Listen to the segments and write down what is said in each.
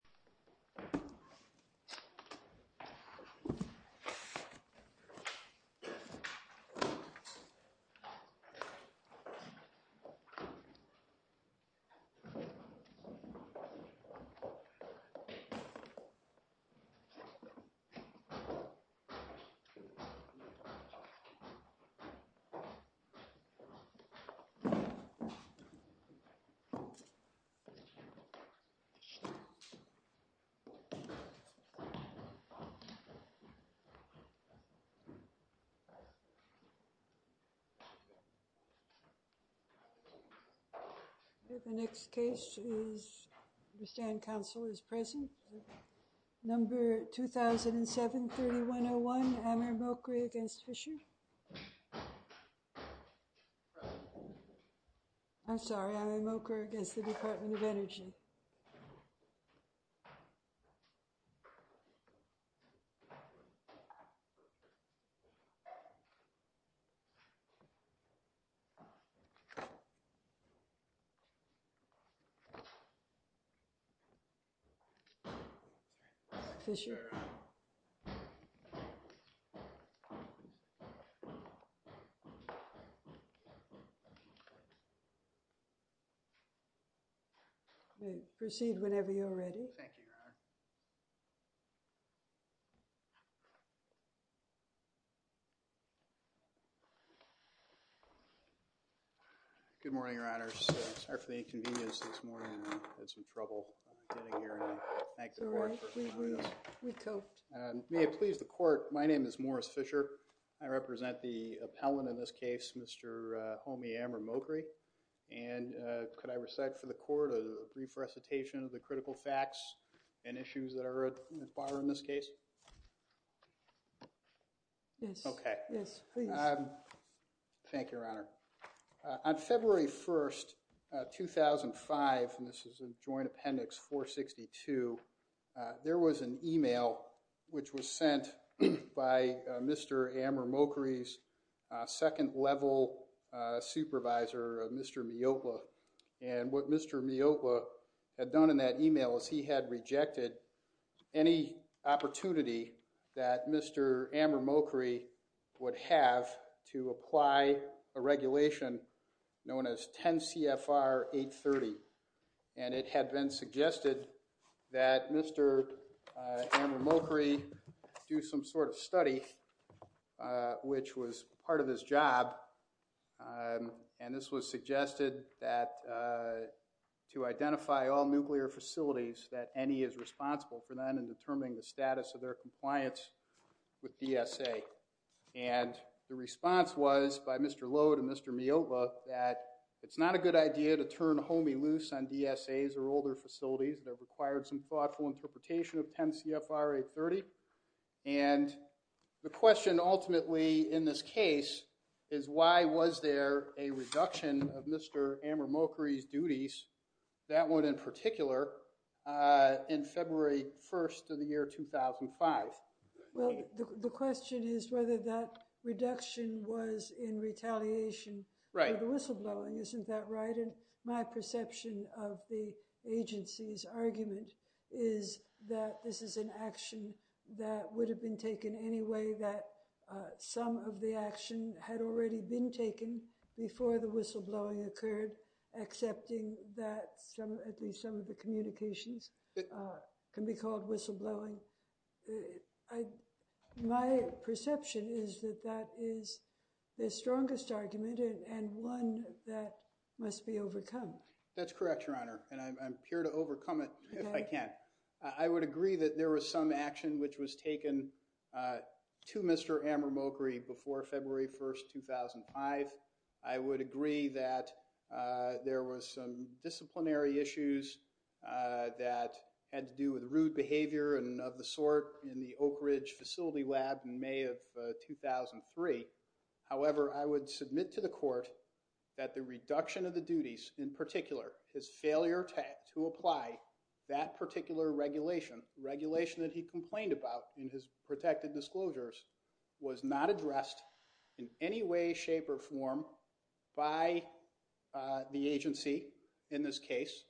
Thank you. The next case for council is present. Number 2731 11 against fisher 깃ika I'm sorry. I'm a broker against the department of energy. Proceed whenever you're ready. Thank you, Your Honor. Good morning, Your Honors. Sorry for the inconvenience this morning. I had some trouble getting here. And I thank the court for coming with us. We coped. May it please the court, my name is Morris Fisher. I represent the appellant in this case, Mr. Homi Amramokri. And could I recite for the court a brief recitation of the critical facts and issues that are at the bar in this case? Yes. Yes, please. Thank you, Your Honor. On February 1, 2005, and this is a joint appendix 462, there was an email which was sent by Mr. Amramokri's second level supervisor, Mr. Miocla. And what Mr. Miocla had done in that email is he had rejected any opportunity that Mr. Amramokri would have to apply a regulation known as 10 CFR 830. And it had been suggested that Mr. Amramokri do some sort of study, which was part of his job. And this was suggested that to identify all nuclear facilities that any is responsible for then in determining the status of their compliance with DSA. And the response was by Mr. Lode and Mr. Miocla that it's not a good idea to turn Homi loose on DSAs or older facilities that required some thoughtful interpretation of 10 CFR 830. And the question ultimately in this case is why was there a reduction of Mr. Amramokri's duties, that one in particular, in February 1 of the year 2005? Well, the question is whether that reduction was in retaliation for the whistleblowing. Isn't that right? My perception of the agency's argument is that this is an action that would have been taken any way that some of the action had already been taken before the whistleblowing occurred, accepting that at least some of the communications can be called whistleblowing. My perception is that that is the strongest argument and one that must be overcome. That's correct, Your Honor. And I'm here to overcome it if I can. I would agree that there was some action which was taken to Mr. Amramokri before February 1, 2005. I would agree that there was some disciplinary issues that had to do with rude behavior and of the sort in the Oak Ridge Facility Lab in May of 2003. However, I would submit to the court that the reduction of the duties, in particular, his failure to apply that particular regulation, regulation that he complained about in his protected disclosures, was not addressed in any way, shape, or form by the agency, in this case,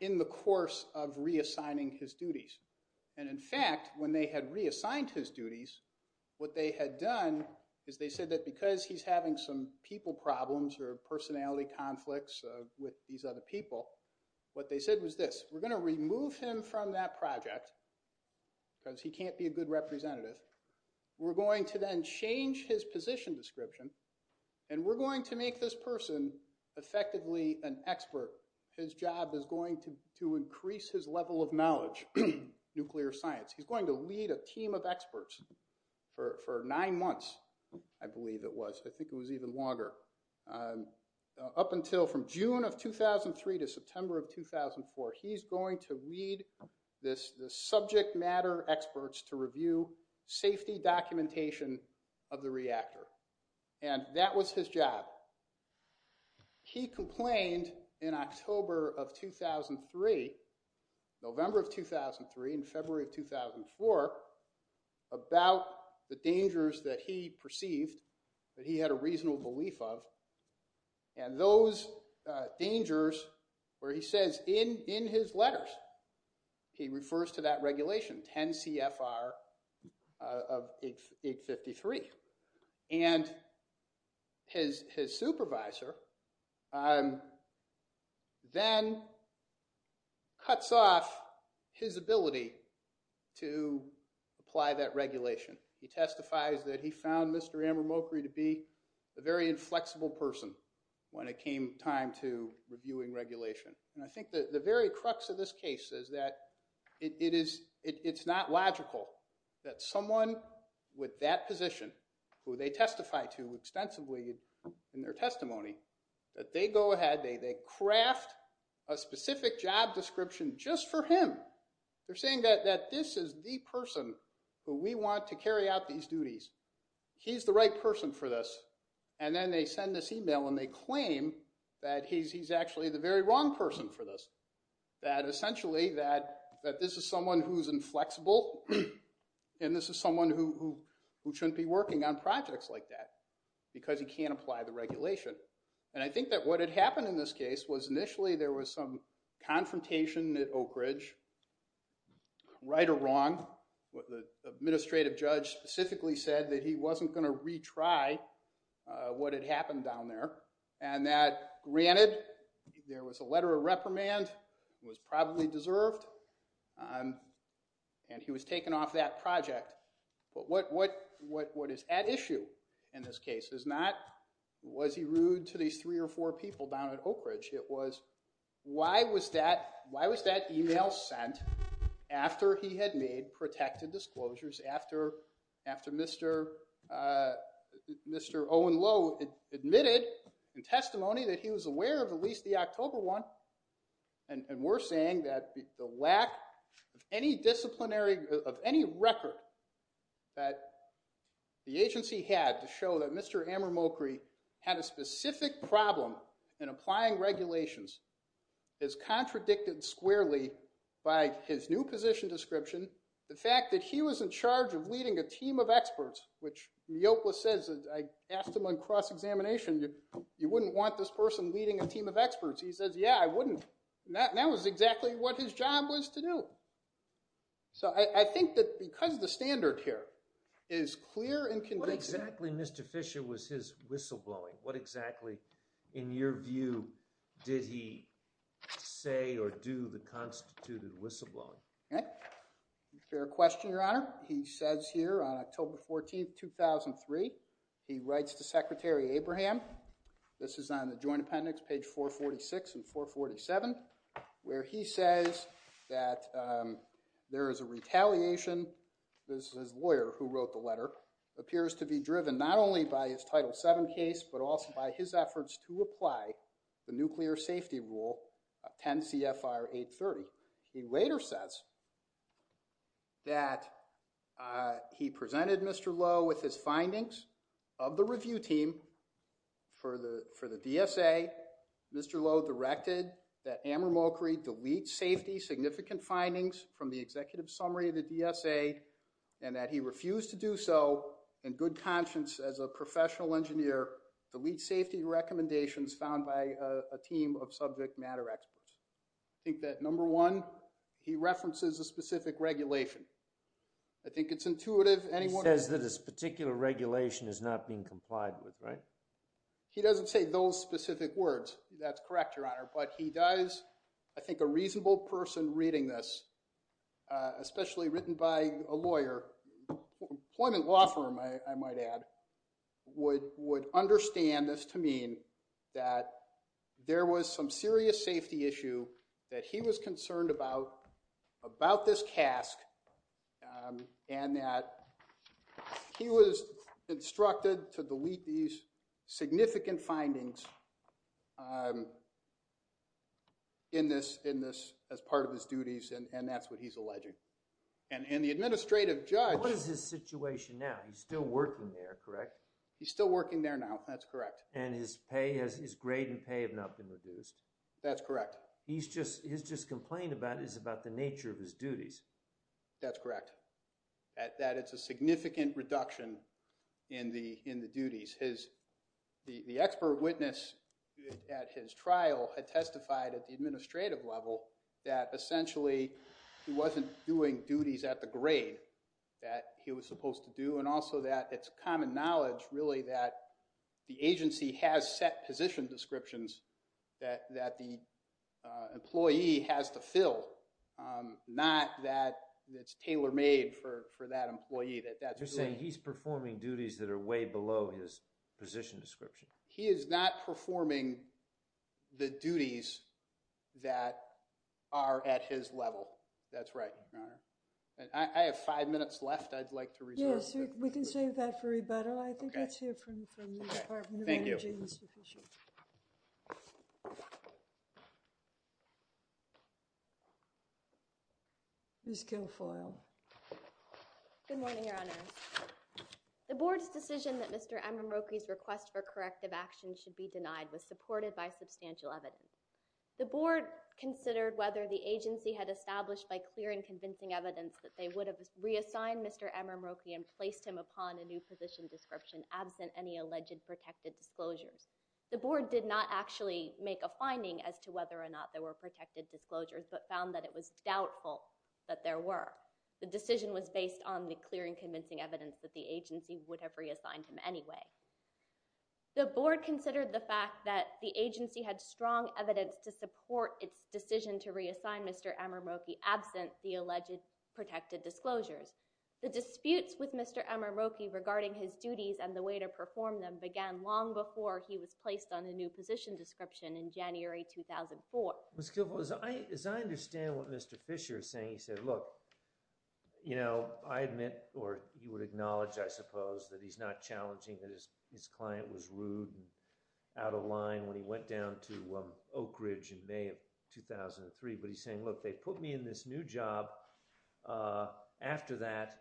in the course of reassigning his duties. And in fact, when they had reassigned his duties, what they had done is they said that because he's having some people problems or personality conflicts with these other people, what they said was this. We're going to remove him from that project because he can't be a good representative. We're going to then change his position description. And we're going to make this person effectively an expert. His job is going to increase his level of knowledge, nuclear science. He's going to lead a team of experts for nine months, I believe it was. I think it was even longer. Up until from June of 2003 to September of 2004, he's going to lead the subject matter experts to review safety documentation of the reactor. And that was his job. He complained in October of 2003, November of 2003, and February of 2004 about the dangers that he perceived that he had a reasonable belief of. And those dangers where he says in his letters, he refers to that regulation, 10 CFR of 853. And his supervisor then cuts off his ability to apply that regulation. He testifies that he found Mr. Amramokri to be a very inflexible person when it came time to reviewing regulation. And I think that the very crux of this case is that it's not logical that someone with that position, who they testify to extensively in their testimony, that they go ahead, they craft a specific job description just for him. They're saying that this is the person who we want to carry out these duties. He's the right person for this. And then they send this email and they claim that he's actually the very wrong person for this. That essentially, that this is someone who's inflexible and this is someone who shouldn't be working on projects like that because he can't apply the regulation. And I think that what had happened in this case was initially there was some confrontation at Oak Ridge, right or wrong. The administrative judge specifically said that he wasn't going to retry what had happened down there. And that, granted, there was a letter of reprimand. It was probably deserved. And he was taken off that project. But what is at issue in this case is not was he rude to these three or four people down at Oak Ridge. It was why was that email sent after he had made protected disclosures, after Mr. Owen Lowe admitted in testimony that he was aware of at least the October one. And we're saying that the lack of any record that the agency had to show that Mr. Amramokri had a specific problem in applying regulations is contradicted squarely by his new position description, the fact that he was in charge of leading a team of experts, which Neopolis says, I asked him on cross-examination, you wouldn't want this person leading a team of experts. He says, yeah, I wouldn't. That was exactly what his job was to do. So I think that because the standard here is clear and convincing. What exactly, Mr. Fisher, was his whistleblowing? What exactly, in your view, did he say or do the constituted whistleblowing? Fair question, Your Honor. He says here on October 14, 2003, he writes to Secretary Abraham. This is on the joint appendix, page 446 and 447, where he says that there is a retaliation. This is his lawyer who wrote the letter. Appears to be driven not only by his Title VII case, but also by his efforts to apply the Nuclear Safety Rule, 10 CFR 830. He later says that he presented Mr. Lowe with his findings of the review team for the DSA. Mr. Lowe directed that Amar Mokri delete safety significant findings from the executive summary of the DSA, and that he refused to do so in good conscience as a professional engineer, delete safety recommendations found by a team of subject matter experts. I think that, number one, he references a specific regulation. I think it's intuitive. He says that this particular regulation is not being complied with, right? He doesn't say those specific words. That's correct, Your Honor. But he does. I think a reasonable person reading this, especially written by a lawyer, employment law firm, I might add, would understand this to mean that there was some serious safety issue that he was concerned about, about this cask, and that he was instructed to delete these significant findings in this as part of his duties. And that's what he's alleging. And the administrative judge. What is his situation now? He's still working there, correct? He's still working there now. That's correct. And his pay, his grade and pay have not been reduced. That's correct. He's just complained about the nature of his duties. That's correct, that it's a significant reduction in the duties. The expert witness at his trial had testified at the administrative level that essentially he wasn't doing duties at the grade that he was supposed to do, and also that it's common knowledge, really, that the agency has set position descriptions that the employee has to fill, not that it's tailor-made for that employee. You're saying he's performing duties that are way below his position description. He is not performing the duties that are at his level. That's right, Your Honor. I have five minutes left I'd like to reserve. We can save that for rebuttal. I think it's here from the Department of Energy. Thank you. It's sufficient. Ms. Guilfoyle. Good morning, Your Honor. The board's decision that Mr. M. Mroki's request for corrective action should be denied was supported by substantial evidence. The board considered whether the agency had established by clear and convincing evidence that they would have reassigned Mr. M. Mroki and placed him upon a new position description absent any alleged protected disclosures. The board did not actually make a finding as to whether or not there were protected disclosures, but found that it was doubtful that there were. The decision was based on the clear and convincing evidence that the agency would have reassigned him anyway. The board considered the fact that the agency had strong evidence to support its decision to reassign Mr. M. Mroki absent the alleged protected disclosures. The disputes with Mr. M. Mroki regarding his duties and the way to perform them began long before he was placed on a new position description in January 2004. Ms. Guilfoyle, as I understand what Mr. Fisher is saying, he said, look, I admit, or he would acknowledge, I suppose, that he's not challenging that his client was rude and out of line when he went down to Oak Ridge in May of 2003. But he's saying, look, they put me in this new job. After that,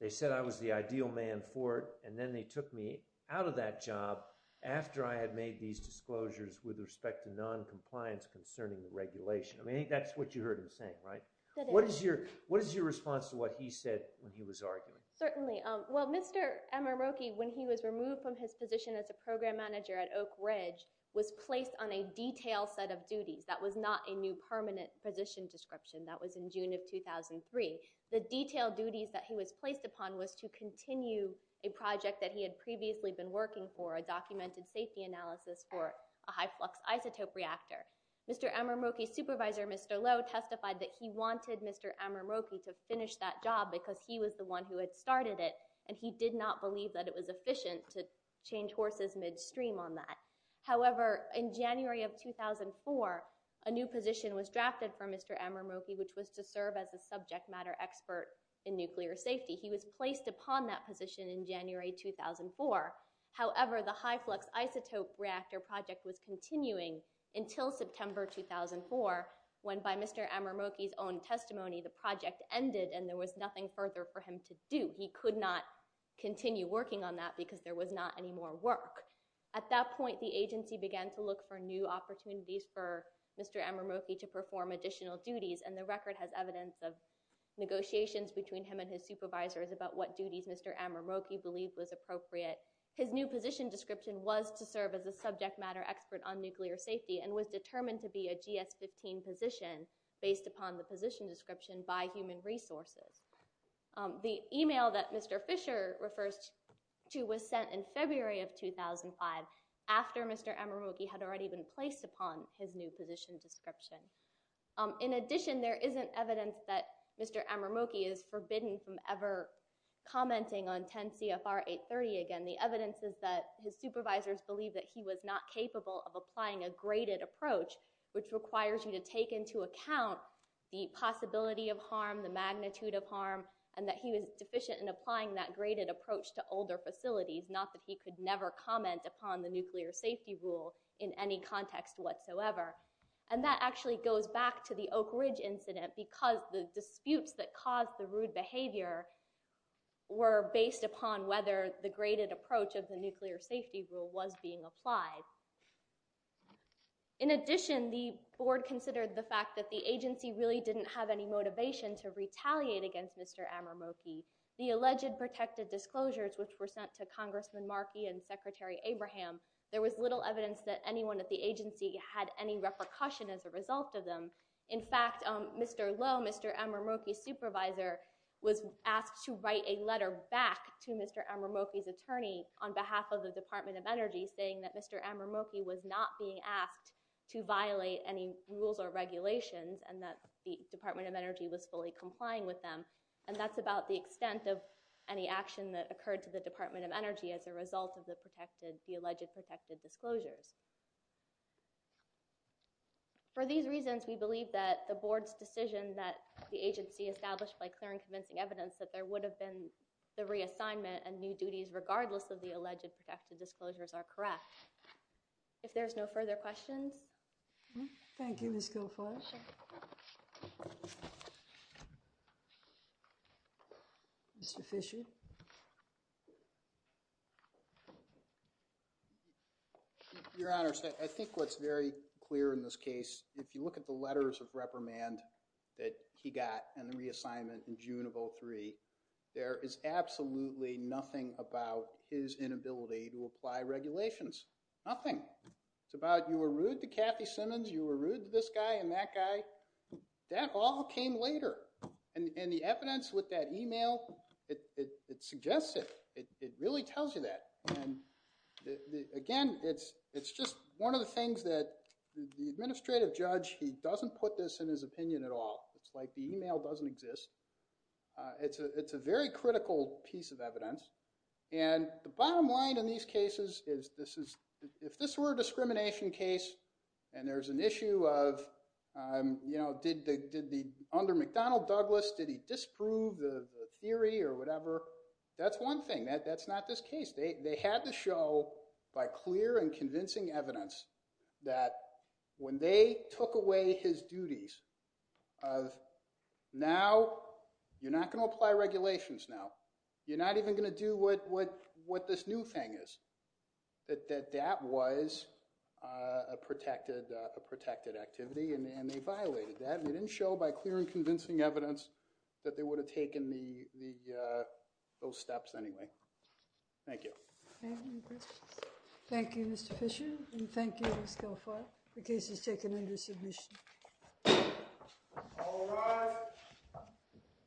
they said I was the ideal man for it. And then they took me out of that job after I had made these disclosures with respect to noncompliance concerning the regulation. I mean, that's what you heard him saying, right? What is your response to what he said when he was arguing? Certainly. Well, Mr. M. Mroki, when he was removed from his position as a program manager at Oak Ridge, was placed on a detailed set of duties. That was not a new permanent position description. That was in June of 2003. The detailed duties that he was placed upon was to continue a project that he had previously been working for, a documented safety analysis for a high flux isotope reactor. Mr. M. Mroki's supervisor, Mr. Lowe, testified that he wanted Mr. M. Mroki to finish that job because he was the one who had started it. And he did not believe that it was efficient to change horses midstream on that. However, in January of 2004, a new position was drafted for Mr. M. Mroki, which was to serve as a subject matter expert in nuclear safety. He was placed upon that position in January 2004. However, the high flux isotope reactor project was continuing until September 2004, when by Mr. M. Mroki's own testimony, the project ended and there was nothing further for him to do. He could not continue working on that because there was not any more work. At that point, the agency began to look for new opportunities for Mr. M. Mroki to perform additional duties. And the record has evidence of negotiations between him and his supervisors about what duties Mr. M. Mroki believed was appropriate. His new position description was to serve as a subject matter expert on nuclear safety and was determined to be a GS-15 position based upon the position description by Human Resources. The email that Mr. Fisher refers to was sent in February of 2005, after Mr. M. Mroki had already been placed upon his new position description. In addition, there isn't evidence that Mr. M. Mroki is forbidden from ever commenting on 10 CFR 830 again. The evidence is that his supervisors believe that he was not capable of applying a graded approach, which requires you to take into account the possibility of harm, the magnitude of harm, and that he was deficient in applying that graded approach to older facilities, not that he could never comment upon the nuclear safety rule in any context whatsoever. And that actually goes back to the Oak Ridge incident, because the disputes that caused the rude behavior were based upon whether the graded approach of the nuclear safety rule was being applied. In addition, the board considered the fact that the agency really didn't have any motivation to retaliate against Mr. M. Mroki. The alleged protected disclosures, which were sent to Congressman Markey and Secretary Abraham, there was little evidence that anyone at the agency had any repercussion as a result of them. In fact, Mr. Lowe, Mr. M. Mroki's supervisor, was asked to write a letter back to Mr. M. Mroki's attorney on behalf of the Department of Energy, saying that Mr. M. Mroki was not being asked to violate any rules or regulations, and that the Department of Energy was fully complying with them. And that's about the extent of any action that was made to the Department of Energy as a result of the alleged protected disclosures. For these reasons, we believe that the board's decision that the agency established by clearing convincing evidence that there would have been the reassignment and new duties, regardless of the alleged protected disclosures, are correct. If there's no further questions. Thank you, Ms. Guilfoyle. Mr. Fisher. Your Honor, I think what's very clear in this case, if you look at the letters of reprimand that he got and the reassignment in June of 2003, there is absolutely nothing about his inability to apply regulations. Nothing. It's about, you were rude to Kathy Simmons, you were rude to this guy and that guy. That all came later. And the evidence with that email, it suggests it. It suggests it. It really tells you that. And again, it's just one of the things that the administrative judge, he doesn't put this in his opinion at all. It's like the email doesn't exist. It's a very critical piece of evidence. And the bottom line in these cases is this is, if this were a discrimination case and there's an issue of, you know, did the under McDonnell Douglas, did he disprove the theory or whatever? That's one thing, that's not this case. They had to show by clear and convincing evidence that when they took away his duties of, now you're not gonna apply regulations now. You're not even gonna do what this new thing is. That that was a protected activity and they violated that. They didn't show by clear and convincing evidence that they would have taken those steps anyway. Thank you. Thank you, Mr. Fisher. And thank you, Ms. Guilfoyle. The case is taken under submission. All rise.